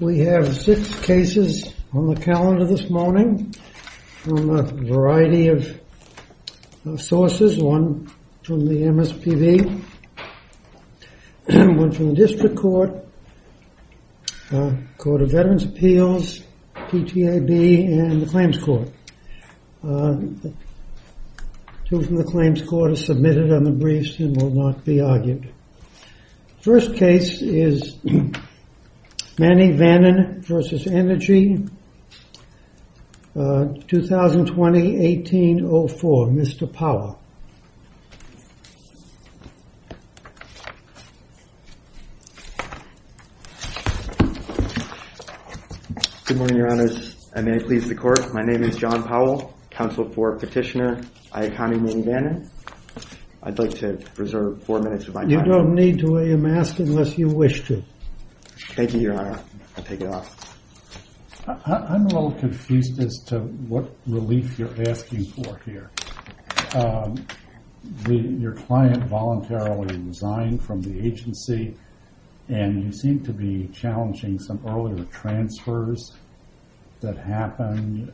We have six cases on the calendar this morning from a variety of sources, one from the MSPB, one from the District Court, the Court of Veterans Appeals, PTAB, and the Claims Court. Two from the Claims Court are submitted on the briefs and will not be argued. First case is Manivannan v. Energy, 2020-18-04. Mr. Powell. Good morning, Your Honors, and may it please the Court, my name is John Powell, counsel for Petitioner Iaconi Manivannan. I'd like to reserve four minutes of my time. You don't need to, I am asking unless you wish to. Thank you, Your Honor. I'll take it off. I'm a little confused as to what relief you're asking for here. Your client voluntarily resigned from the agency and you seem to be challenging some earlier transfers that happened.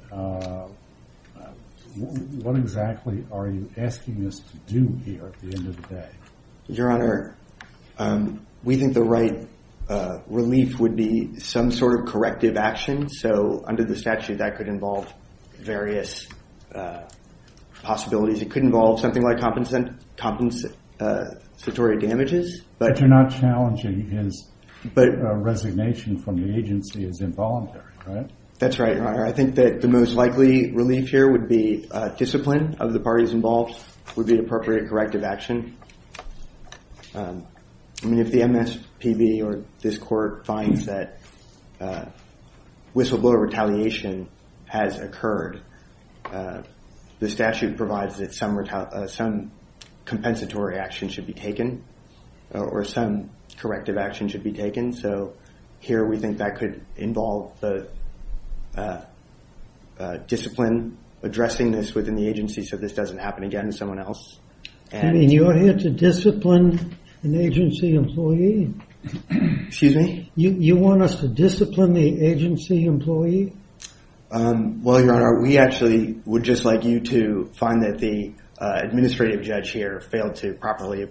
What exactly are you asking us to do here at the end of the day? Your Honor, we think the right relief would be some sort of corrective action, so under the statute that could involve various possibilities. It could involve something like compensatory damages. But you're not challenging his resignation from the agency as involuntary, right? That's right, Your Honor. I think that the most likely relief here would be discipline of the parties involved would be appropriate corrective action. I mean, if the MSPB or this Court finds that whistleblower retaliation has occurred, the statute provides that some compensatory action should be taken or some corrective action should be taken. So here we think that could involve the discipline addressing this within the agency so this doesn't happen again to someone else. I mean, you're here to discipline an agency employee. Excuse me? You want us to discipline the agency employee? Well, Your Honor, we actually would just like you to find that the administrative judge here failed to properly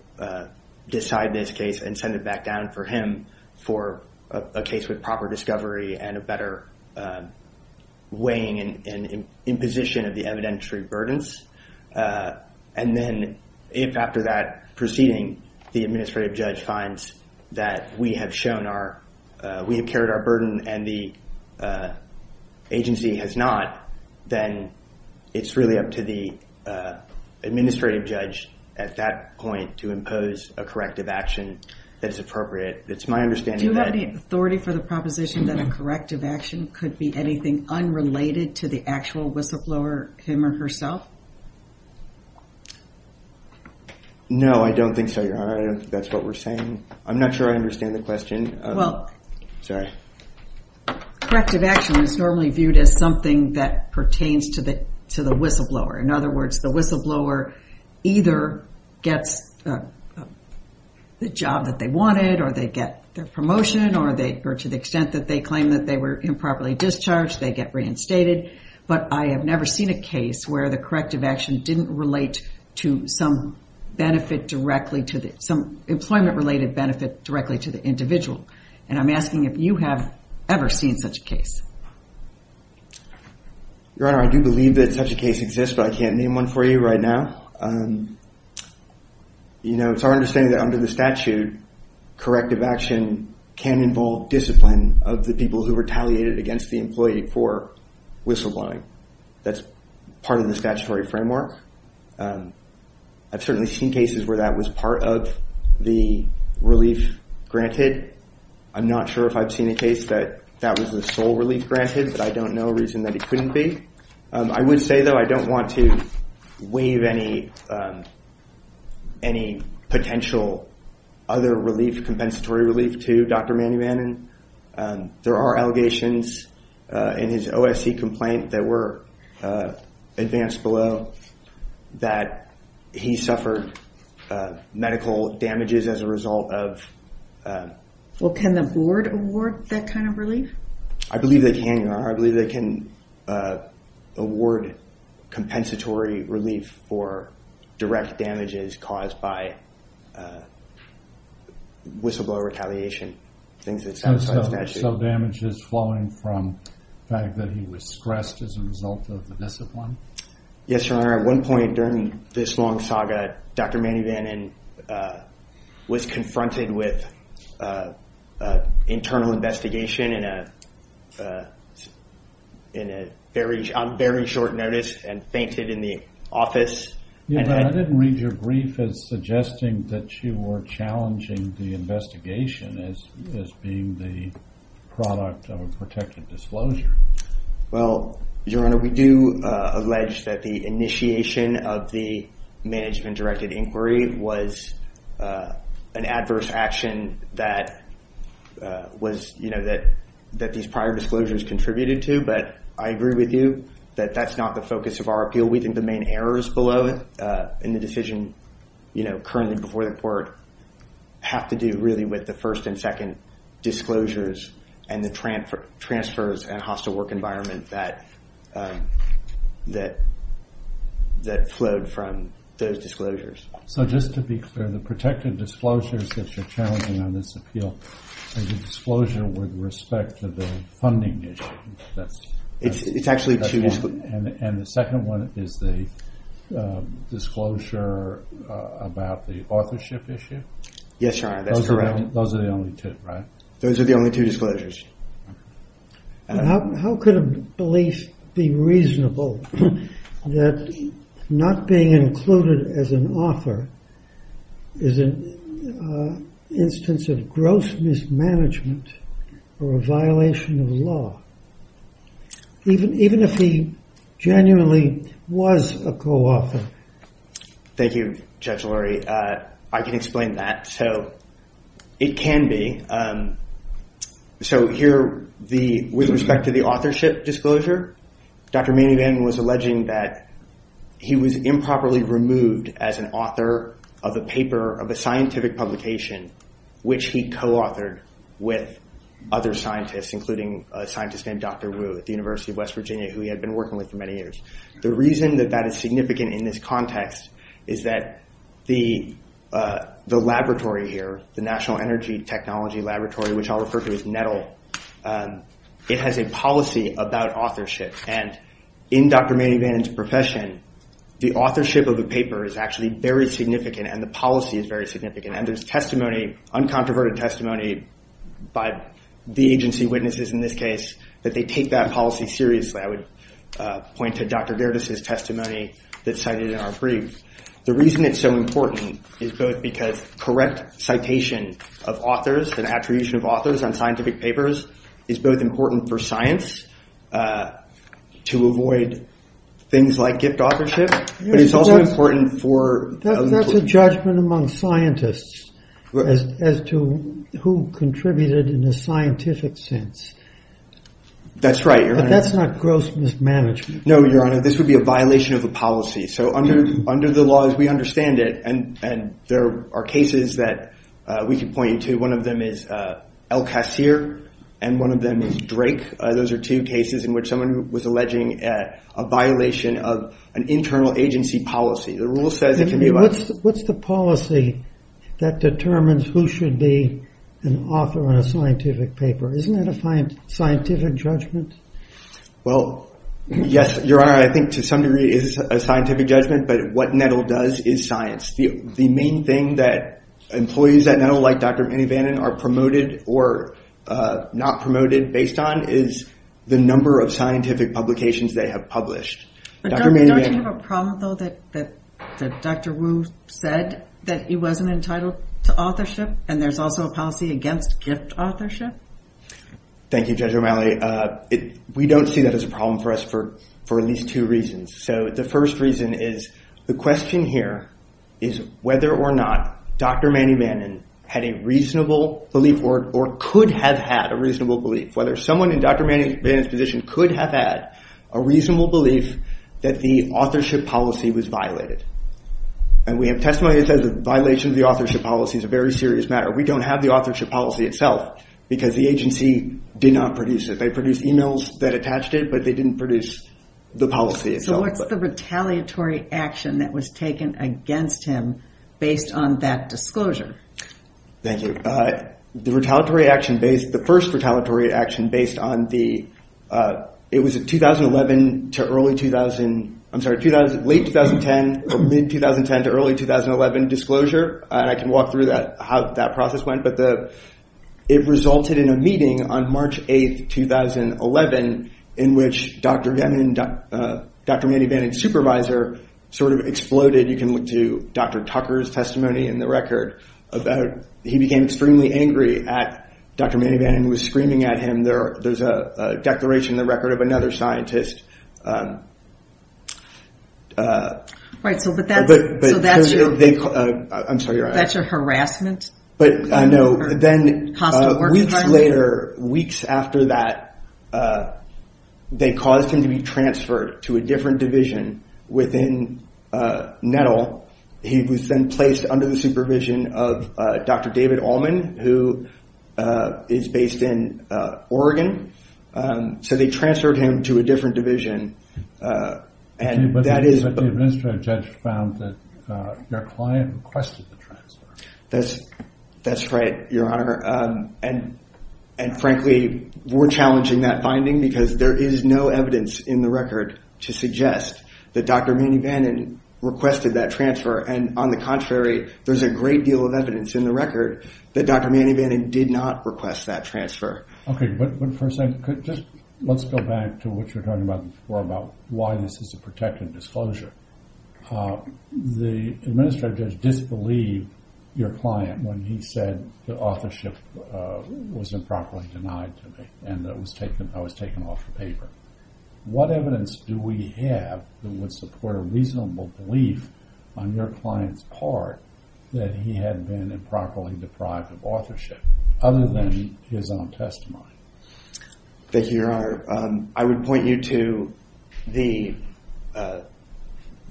decide this case and send it back down for him for a case with proper discovery and a better weighing and imposition of the evidentiary burdens. And then, if after that proceeding, the administrative judge finds that we have carried our burden and the agency has not, then it's really up to the administrative judge at that point to impose a corrective action that is appropriate. It's my understanding that... Do you have any authority for the proposition that a corrective action could be anything unrelated to the actual whistleblower, him or herself? No, I don't think so, Your Honor. I don't think that's what we're saying. I'm not sure I understand the question. Sorry. A corrective action is normally viewed as something that pertains to the whistleblower. In other words, the whistleblower either gets the job that they wanted, or they get their promotion, or to the extent that they claim that they were improperly discharged, they get reinstated. But I have never seen a case where the corrective action didn't relate to some employment-related benefit directly to the individual. And I'm asking if you have ever seen such a case. Your Honor, I do believe that such a case exists, but I can't name one for you right now. It's our understanding that under the statute, corrective action can involve discipline of the people who retaliated against the employee for whistleblowing. That's part of the statutory framework. I've certainly seen cases where that was part of the relief granted. I'm not sure if I've seen a case that that was the sole relief granted, but I don't know a reason that it couldn't be. I would say, though, I don't want to waive any potential other relief, compensatory relief to Dr. Manny Bannon. There are allegations in his OSC complaint that were advanced below that he suffered medical damages as a result of... Well, can the board award that kind of relief? I believe they can, Your Honor. I believe they can award compensatory relief for direct damages caused by whistleblower retaliation, things that satisfy the statute. So, damages flowing from the fact that he was stressed as a result of the discipline? Yes, Your Honor. At one point during this long saga, Dr. Manny Bannon was confronted with an internal investigation on very short notice and fainted in the office. I didn't read your brief as suggesting that you were challenging the investigation as being the product of a protected disclosure. Well, Your Honor, we do allege that the initiation of the management-directed inquiry was an adverse action that these prior disclosures contributed to, but I agree with you that that's the focus of our appeal. We think the main errors below in the decision currently before the court have to do really with the first and second disclosures and the transfers and hostile work environment that flowed from those disclosures. So, just to be clear, the protected disclosures that you're challenging on this appeal are the disclosure with respect to the funding issue? It's actually two. And the second one is the disclosure about the authorship issue? Yes, Your Honor, that's correct. Those are the only two, right? Those are the only two disclosures. How could a belief be reasonable that not being included as an author is an instance of gross mismanagement or a violation of law? Even if he genuinely was a co-author? Thank you, Judge Lurie. I can explain that. So, it can be. So, here, with respect to the authorship disclosure, Dr. Manny Van was alleging that he was improperly removed as an author of a paper of a scientific publication, which he co-authored with other scientists, including a scientist named Dr. Wu at the University of West Virginia, who he had been working with for many years. The reason that that is significant in this context is that the laboratory here, the National Energy Technology Laboratory, which I'll refer to as NETL, it has a policy about authorship. And in Dr. Manny Van's profession, the authorship of the paper is actually very significant, and the policy is very significant. And there's testimony, uncontroverted testimony, by the agency witnesses in this case, that they take that policy seriously. I would point to Dr. Gerdes' testimony that's cited in our brief. The reason it's so important is both because correct citation of authors and attribution of authors on scientific papers is both important for science to avoid things like gift authorship, but it's also important for... That's a judgment among scientists as to who contributed in a scientific sense. That's right, Your Honor. But that's not gross mismanagement. No, Your Honor. This would be a violation of a policy. So under the laws, we understand it, and there are cases that we can point you to. One of them is El-Kassir, and one of them is Drake. Those are two cases in which someone was alleging a violation of an internal agency policy. What's the policy that determines who should be an author on a scientific paper? Isn't that a scientific judgment? Well, yes, Your Honor. I think to some degree it is a scientific judgment, but what NEDL does is science. The main thing that employees at NEDL, like Dr. Manny Van, are promoted or not promoted based on is the number of scientific publications they have published. Don't you have a problem, though, that Dr. Wu said that he wasn't entitled to authorship, and there's also a policy against gift authorship? Thank you, Judge O'Malley. We don't see that as a problem for us for at least two reasons. So the first reason is the question here is whether or not Dr. Manny Van had a belief or could have had a reasonable belief, whether someone in Dr. Manny Van's position could have had a reasonable belief that the authorship policy was violated. We have testimony that says the violation of the authorship policy is a very serious matter. We don't have the authorship policy itself because the agency did not produce it. They produced emails that attached it, but they didn't produce the policy itself. What's the retaliatory action that was taken against him based on that disclosure? Thank you. The first retaliatory action, it was late 2010 or mid-2010 to early 2011 disclosure, and I can walk through how that process went, but it resulted in a meeting on March 8, 2011, in which Dr. Manny Van and his supervisor sort of exploded. You can look to Dr. Tucker's testimony in the record. He became extremely angry at Dr. Manny Van. He was screaming at him. There's a declaration in the record of another scientist. That's a harassment? But no. Weeks after that, they caused him to be transferred to a different division within NETL. He was then placed under the supervision of Dr. David Allman, who is based in Oregon. So they transferred him to a different division, and that is- But the administrative judge found that your client requested the transfer. That's right, Your Honor. And frankly, we're challenging that finding because there is no evidence in the record to suggest that Dr. Manny Van requested that transfer, and on the contrary, there's a great deal of evidence in the record that Dr. Manny Van did not request that transfer. Okay, but first, let's go back to what you were talking about before about why this is a protected disclosure. The administrative judge disbelieved your client when he said the authorship was improperly denied to me and that I was taken off the paper. What evidence do we have that would support a reasonable belief on your client's part that he had been improperly deprived of authorship, other than his own testimony? Thank you, Your Honor. I would point you to the,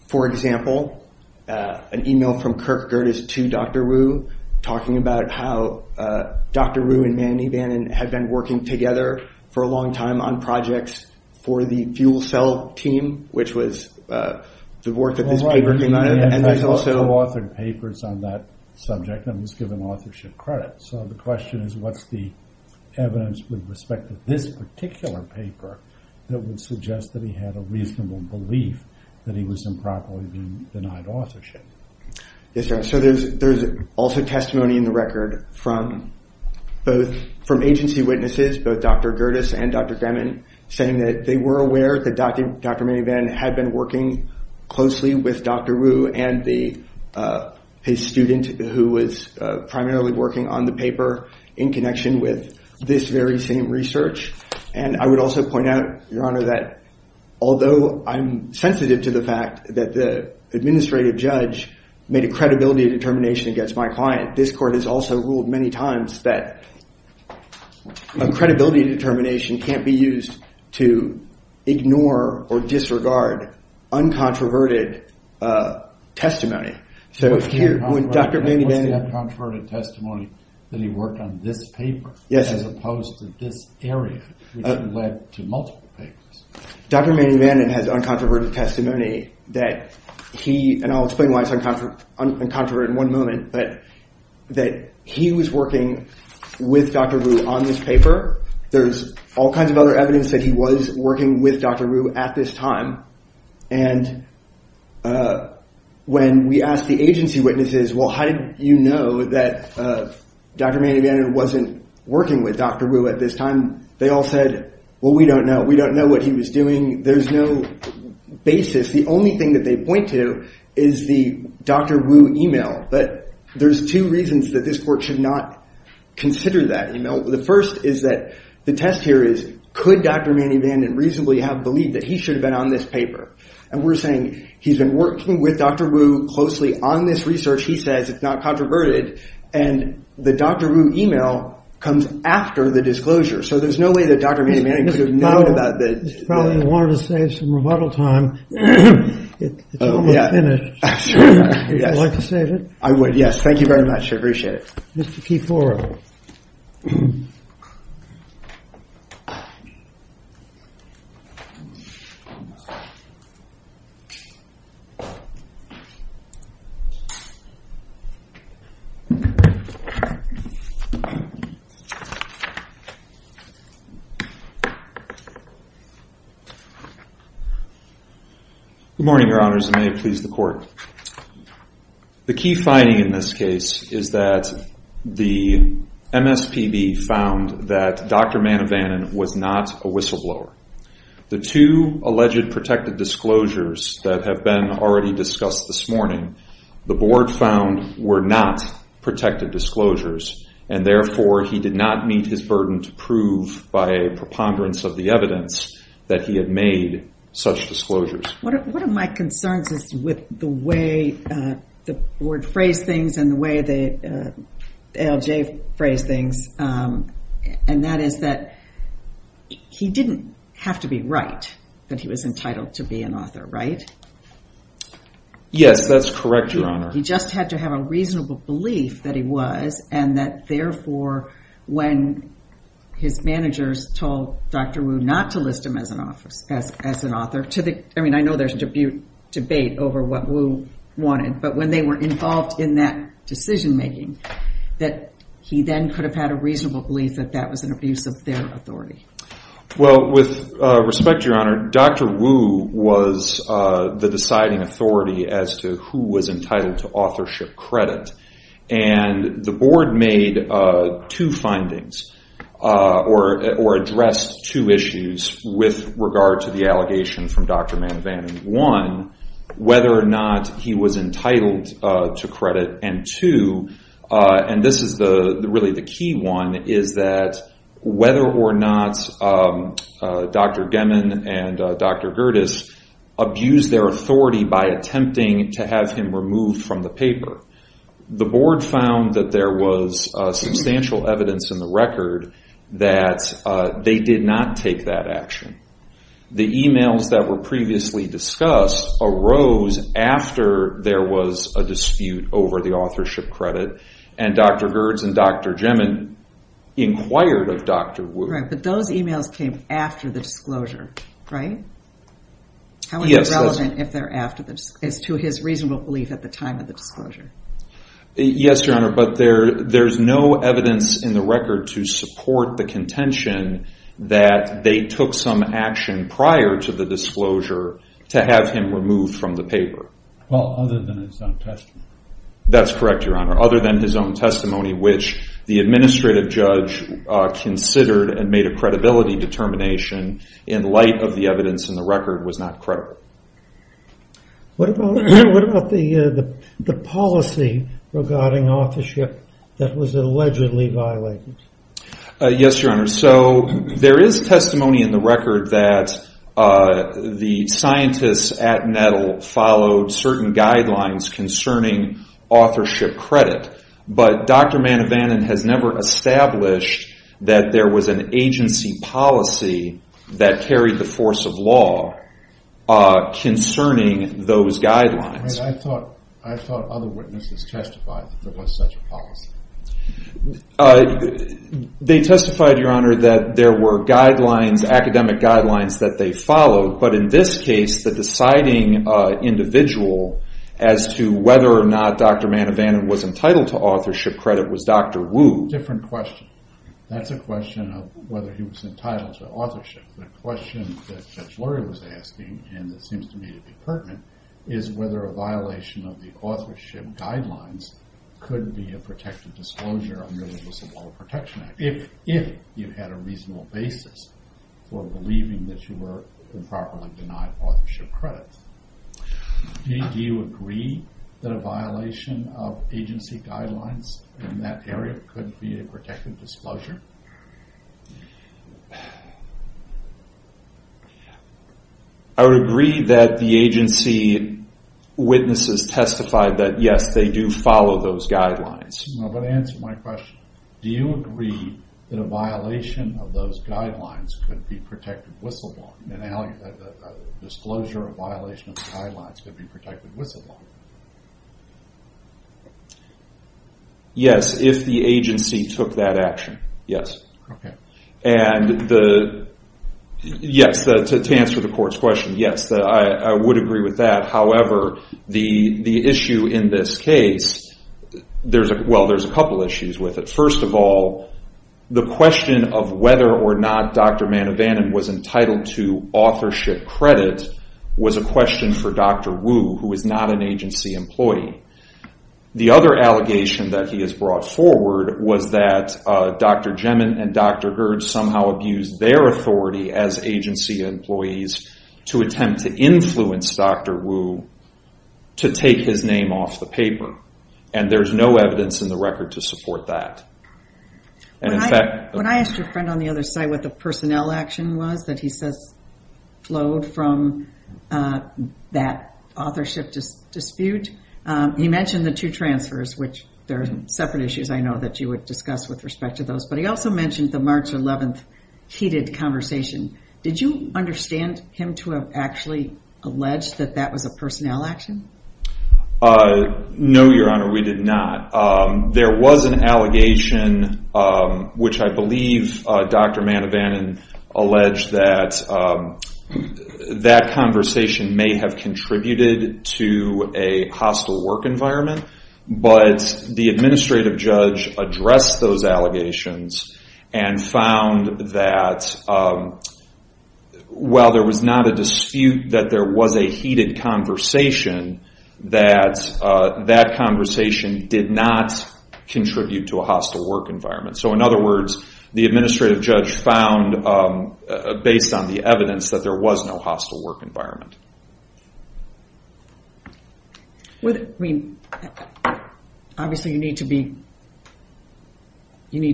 for example, an email from Kirk Gerdes to Dr. Wu talking about how Dr. Wu and Manny Van had been working together for a long time on projects for the fuel cell team, which was the work that this paper came out of, and there's also- Co-authored papers on that subject and was given authorship credit. So, the question is, what's the evidence with respect to this particular paper that would suggest that he had a reasonable belief that he was improperly being denied authorship? Yes, Your Honor. So, there's also testimony in the record from agency witnesses, both Dr. Gerdes and Dr. Gremmin, saying that they were aware that Dr. Manny Van had been working closely with Dr. Wu and his student who was primarily working on the paper in connection with this very same research. And I would also point out, Your Honor, that although I'm sensitive to the fact that the administrative judge made a credibility determination against my client, this court has also ruled many times that a credibility determination can't be used to ignore or disregard uncontroverted testimony. So, when Dr. Manny Van- What's the uncontroverted testimony that he worked on this paper? Yes. As opposed to this area, which led to multiple papers. Dr. Manny Van has uncontroverted testimony that he, and I'll explain why it's uncontroverted in one moment, but that he was working with Dr. Wu on this paper. There's all kinds of other evidence that he was working with Dr. Wu at this time. And when we asked the agency witnesses, well, how did you know that Dr. Manny Van wasn't working with Dr. Wu at this time? They all said, well, we don't know. We don't know what he was doing. There's no basis. The only thing that they point to is the Dr. Wu email. But there's two reasons that this court should not consider that email. The first is that the test here is, could Dr. Manny Van reasonably have believed that he should have been on this paper? And we're saying he's been working with Dr. Wu closely on this research. He says it's not controverted. And the Dr. Wu email comes after the disclosure. So, there's no way that Dr. Manny Van could have known about the- Probably wanted to save some rebuttal time. It's almost finished. Would you like to save it? I would, yes. Thank you very much. I appreciate it. Mr. Kifora. Good morning, your honors. And may it please the court. The key finding in this case is that the MSPB found that Dr. Manny Van was not a whistleblower. The two alleged protected disclosures that have been already discussed this morning, the board found were not protected disclosures. And therefore, he did not meet his burden to prove by a preponderance of the evidence that he had made such disclosures. One of my concerns is with the way the board phrased things and the way the LJ phrased things. And that is that he didn't have to be right that he was entitled to be an author, right? Yes, that's correct, your honor. He just had to have a reasonable belief that he was. And that therefore, when his managers told Dr. Wu not to list him as an author, I know there's a debate over what Wu wanted. But when they were involved in that decision making, that he then could have had a reasonable belief that that was an abuse of their authority. Well, with respect, your honor, Dr. Wu was the deciding authority as to who was entitled to authorship credit. And the board made two findings or addressed two issues with regard to the allegation from Dr. Manvan. One, whether or not he was entitled to credit. And two, and this is really the key one, is that whether or not Dr. Gemmon and Dr. Gerdes abused their authority by attempting to have him removed from the paper. The board found that there was substantial evidence in the record that they did not take that action. The emails that were previously discussed arose after there was a dispute over the authorship credit. And Dr. Gerdes and Dr. Gemmon inquired of Dr. Wu. Right, but those emails came after the disclosure, right? How is it relevant if they're after the disclosure, as to his reasonable belief at the time of the disclosure? Yes, your honor, but there's no evidence in the record to support the contention that they took some action prior to the disclosure to have him removed from the paper. Well, other than his own testimony. That's correct, your honor. Other than his own testimony, which the administrative judge considered and made a credibility determination in light of the evidence in the record was not credible. What about the policy regarding authorship that was allegedly violated? Yes, your honor. So there is testimony in the record that the scientists at Nettle followed certain guidelines concerning authorship credit. But Dr. Manavanan has never established that there was an agency policy that carried the force of law. Concerning those guidelines. I thought other witnesses testified that there was such a policy. They testified, your honor, that there were guidelines, academic guidelines that they followed. But in this case, the deciding individual as to whether or not Dr. Manavanan was entitled to authorship credit was Dr. Wu. Different question. That's a question of whether he was entitled to authorship. The question that Judge Lurie was asking, and it seems to me to be pertinent, is whether a violation of the authorship guidelines could be a protective disclosure under the Disability Protection Act, if you had a reasonable basis for believing that you were improperly denied authorship credit. Do you agree that a violation of agency guidelines in that area could be a protective disclosure? I would agree that the agency witnesses testified that, yes, they do follow those guidelines. I'm going to answer my question. Do you agree that a violation of those guidelines could be protected whistleblowing, that a disclosure or violation of the guidelines could be protected whistleblowing? Yes, if the agency took that action, yes. Okay. And yes, to answer the court's question, yes, I would agree with that. However, the issue in this case, well, there's a couple issues with it. First of all, the question of whether or not Dr. Manavanan was entitled to authorship credit was a question for Dr. Wu, who is not an agency employee. The other allegation that he has brought forward was that Dr. Gemin and Dr. Gerd somehow abused their authority as agency employees to attempt to influence Dr. Wu to take his name off the paper, and there's no evidence in the record to support that. When I asked a friend on the other side what the personnel action was that he says flowed from that authorship dispute, he mentioned the two transfers, which there are separate issues I know that you would discuss with respect to those, but he also mentioned the March 11th heated conversation. Did you understand him to have actually alleged that that was a personnel action? No, Your Honor, we did not. There was an allegation, which I believe Dr. Manavanan alleged that that conversation may have contributed to a hostile work environment, but the administrative judge addressed those allegations and found that while there was not a dispute, that there was a heated conversation, that that conversation did not contribute to a hostile work environment. In other words, the administrative judge found, based on the evidence, that there was no hostile work environment. Obviously, you need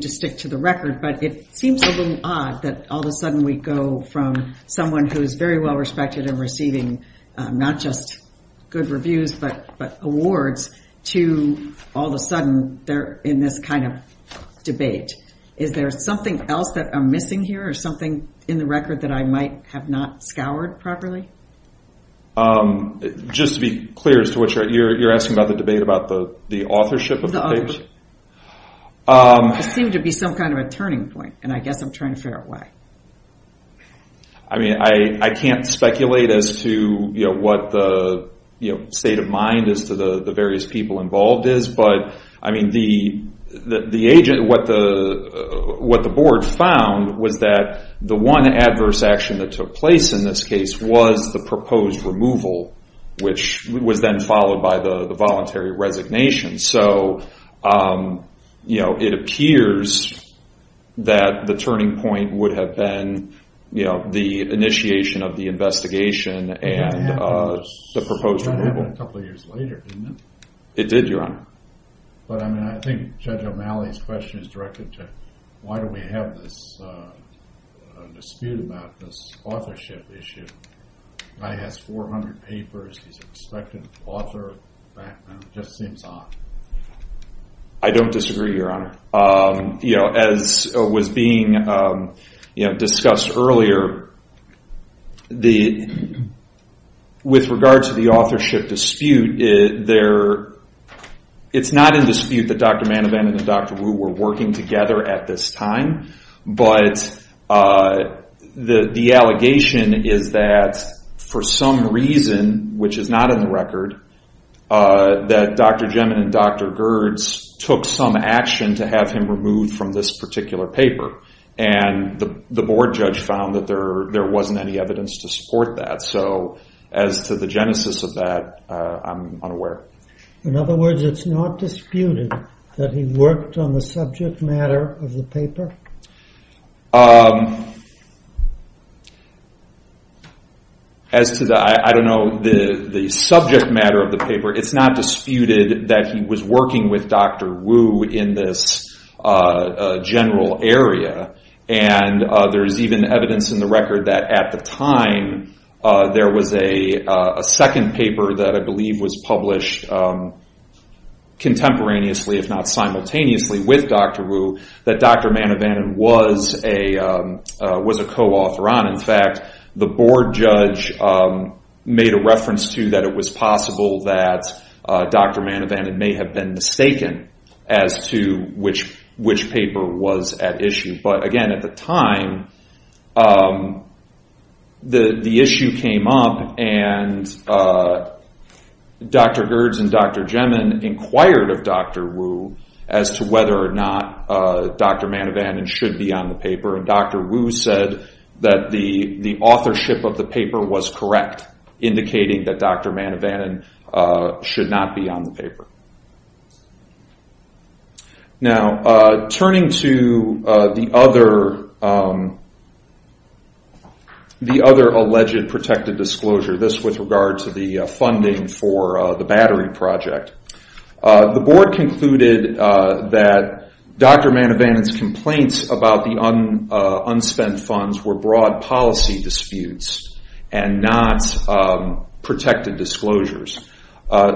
to stick to the record, but it seems a little odd that all of a sudden we go from someone who is very well-respected and receiving not just good reviews but awards to all of a sudden they're in this kind of debate. Is there something else that I'm missing here or something in the record that I might have not scoured properly? Just to be clear, you're asking about the debate about the authorship of the papers? It seemed to be some kind of a turning point, and I guess I'm trying to figure out why. I mean, I can't speculate as to what the state of mind as to the various people involved is, but what the board found was that the one adverse action that took place in this case was the proposed removal, which was then followed by the voluntary resignation. So it appears that the turning point would have been the initiation of the investigation and the proposed removal. It happened a couple of years later, didn't it? It did, Your Honor. But I mean, I think Judge O'Malley's question is directed to why do we have this dispute about this authorship issue? O'Malley has 400 papers. He's an expected author right now. It just seems odd. I don't disagree, Your Honor. As was being discussed earlier, with regard to the authorship dispute, it's not in dispute that Dr. Manavan and Dr. Wu were working together at this time, but the allegation is that for some reason, which is not in the record, that Dr. Gemin and Dr. Gerdes took some action to have him removed from this particular paper. And the board judge found that there wasn't any evidence to support that. So as to the genesis of that, I'm unaware. In other words, it's not disputed that he worked on the subject matter of the paper? As to the, I don't know, the subject matter of the paper, it's not disputed that he was working with Dr. Wu in this general area. And there's even evidence in the record that at the time, there was a second paper that I believe was published contemporaneously, if not simultaneously, with Dr. Wu that Dr. Manavan was a co-author on. In fact, the board judge made a reference to that it was possible that Dr. Manavan may have been mistaken as to which paper was at issue. But again, at the time, the issue came up and Dr. Gerdes and Dr. Gemin inquired of Dr. Wu as to whether or not Dr. Manavan should be on the paper. And Dr. Wu said that the authorship of the paper was correct, indicating that Dr. Manavan should not be on the paper. Now, turning to the other alleged protected disclosure, this with regard to the funding for the battery project. The board concluded that Dr. Manavan's complaints about the unspent funds were broad policy disputes and not protected disclosures.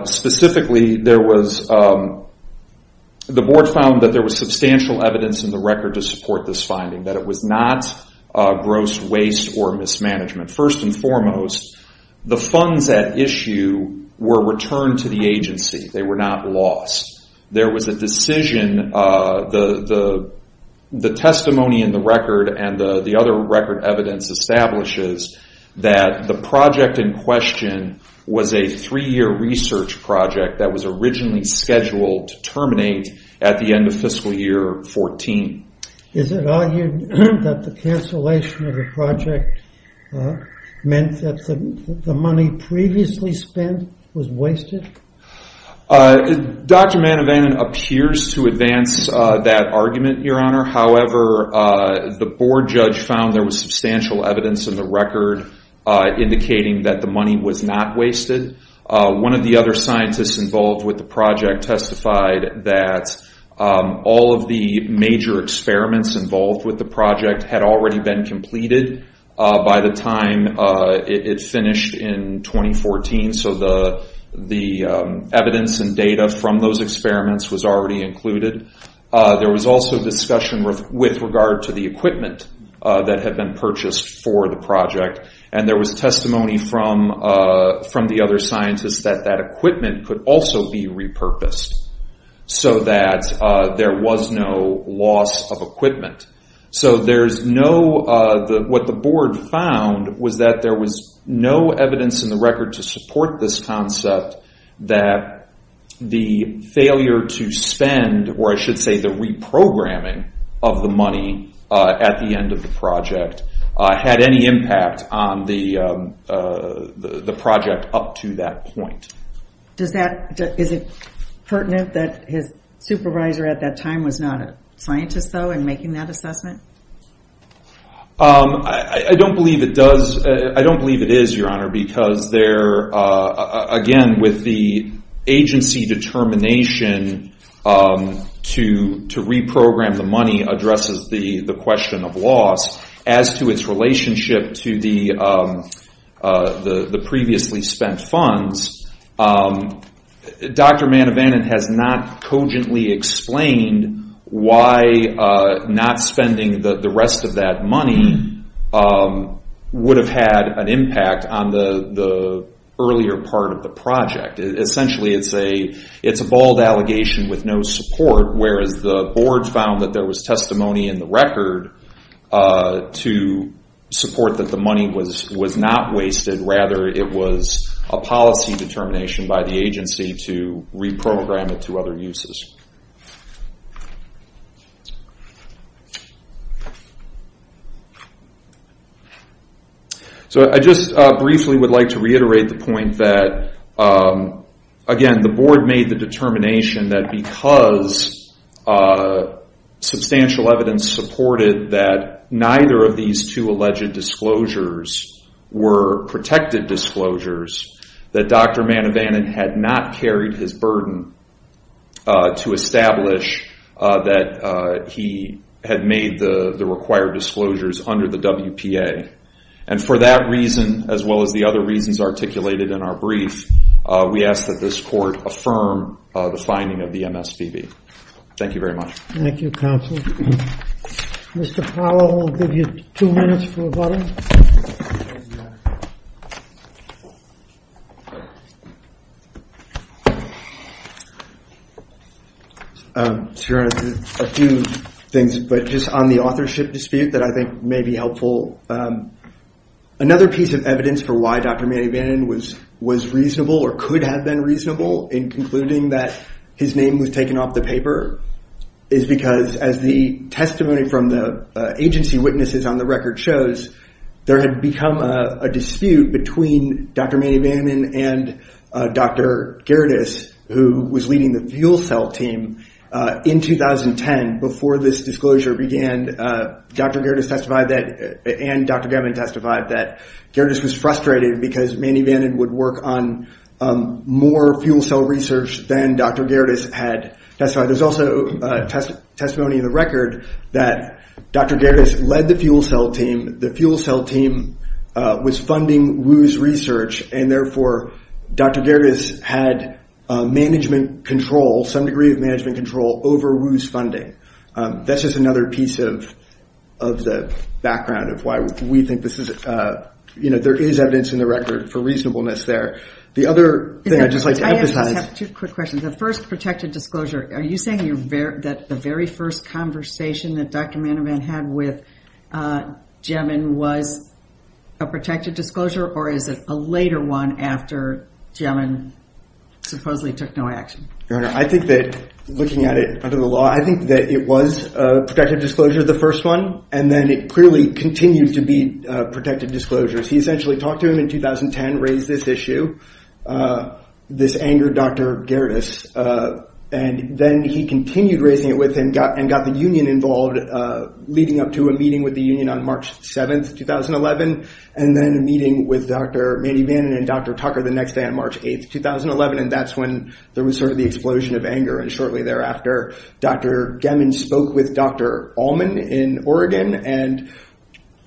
Specifically, the board found that there was substantial evidence in the record to support this finding, that it was not gross waste or mismanagement. First and foremost, the funds at issue were returned to the agency. They were not lost. There was a decision, the testimony in the record and the other record evidence establishes that the project in question was a three-year research project that was originally scheduled to terminate at the end of fiscal year 14. Is it argued that the cancellation of the project meant that the money previously spent was wasted? Dr. Manavan appears to advance that argument, Your Honor. However, the board judge found there was substantial evidence in the record indicating that the money was not wasted. One of the other scientists involved with the project testified that all of the major experiments involved with the project had already been completed by the time it finished in 2014, so the evidence and data from those experiments was already included. There was also discussion with regard to the equipment that had been purchased for the project, and there was testimony from the other scientists that that equipment could also be repurposed so that there was no loss of equipment. What the board found was that there was no evidence in the record to support this concept that the failure to spend, or I should say the reprogramming of the money at the end of the project had any impact on the project up to that point. Does that, is it pertinent that his supervisor at that time was not a scientist, though, in making that assessment? I don't believe it does, I don't believe it is, Your Honor, because there, again, with the agency determination to reprogram the money addresses the question of loss. As to its relationship to the previously spent funds, Dr. Manavanan has not cogently explained why not spending the rest of that money would have had an impact on the earlier part of the project. Essentially, it's a bald allegation with no support, whereas the board found that there to support that the money was not wasted, rather it was a policy determination by the agency to reprogram it to other uses. I just briefly would like to reiterate the point that, again, the board made the determination that because substantial evidence supported that neither of these two alleged disclosures were protected disclosures, that Dr. Manavanan had not carried his burden to establish that he had made the required disclosures under the WPA. For that reason, as well as the other reasons articulated in our brief, we ask that this be the final signing of the MSPB. Thank you very much. Thank you, counsel. Mr. Powell, we'll give you two minutes for a vote. Your Honor, a few things, but just on the authorship dispute that I think may be helpful. Another piece of evidence for why Dr. Manavanan was reasonable or could have been reasonable in concluding that his name was taken off the paper is because, as the testimony from the agency witnesses on the record shows, there had become a dispute between Dr. Manavanan and Dr. Gerdes, who was leading the fuel cell team in 2010, before this disclosure began. Dr. Gerdes testified that...and Dr. German testified that Gerdes was frustrated because Manavanan would work on more fuel cell research than Dr. Gerdes had testified. There's also testimony in the record that Dr. Gerdes led the fuel cell team. The fuel cell team was funding Wu's research, and therefore, Dr. Gerdes had management control, some degree of management control, over Wu's funding. That's just another piece of the background of why we think this is... for reasonableness there. The other thing I'd just like to emphasize... I have two quick questions. The first protected disclosure, are you saying that the very first conversation that Dr. Manavanan had with German was a protected disclosure, or is it a later one after German supposedly took no action? Your Honor, I think that, looking at it under the law, I think that it was a protected disclosure, the first one, and then it clearly continued to be protected disclosures. He essentially talked to him in 2010, raised this issue, this angered Dr. Gerdes, and then he continued raising it with him and got the union involved, leading up to a meeting with the union on March 7th, 2011, and then a meeting with Dr. Manavanan and Dr. Tucker the next day on March 8th, 2011, and that's when there was the explosion of anger. Shortly thereafter, Dr. Gemmon spoke with Dr. Allman in Oregon and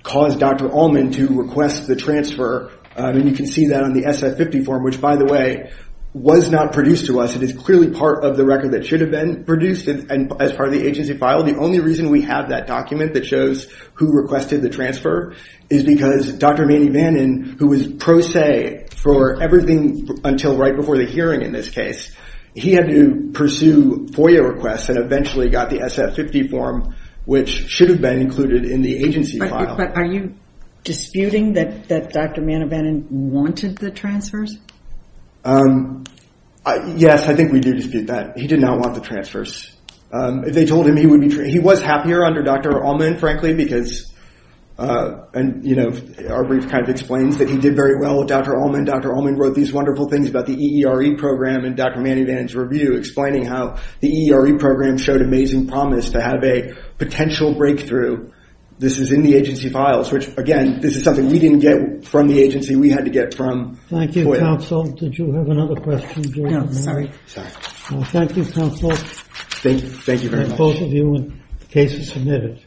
caused Dr. Allman to request the transfer, and you can see that on the SF-50 form, which, by the way, was not produced to us. It is clearly part of the record that should have been produced as part of the agency file. The only reason we have that document that shows who requested the transfer is because Dr. Manavanan, who was pro se for everything until right before the hearing in this case, he had to pursue FOIA requests and eventually got the SF-50 form, which should have been included in the agency file. Are you disputing that Dr. Manavanan wanted the transfers? Yes, I think we do dispute that. He did not want the transfers. He was happier under Dr. Allman, frankly, because our brief kind of explains that he did very well with Dr. Allman. Dr. Allman wrote these wonderful things about the EERE program in Dr. Manavanan's review, explaining how the EERE program showed amazing promise to have a potential breakthrough. This is in the agency files, which, again, this is something we did not get from the agency. We had to get from FOIA. Thank you, counsel. Did you have another question? No, sorry. Thank you, counsel. Thank you very much. Both of you, the case is submitted.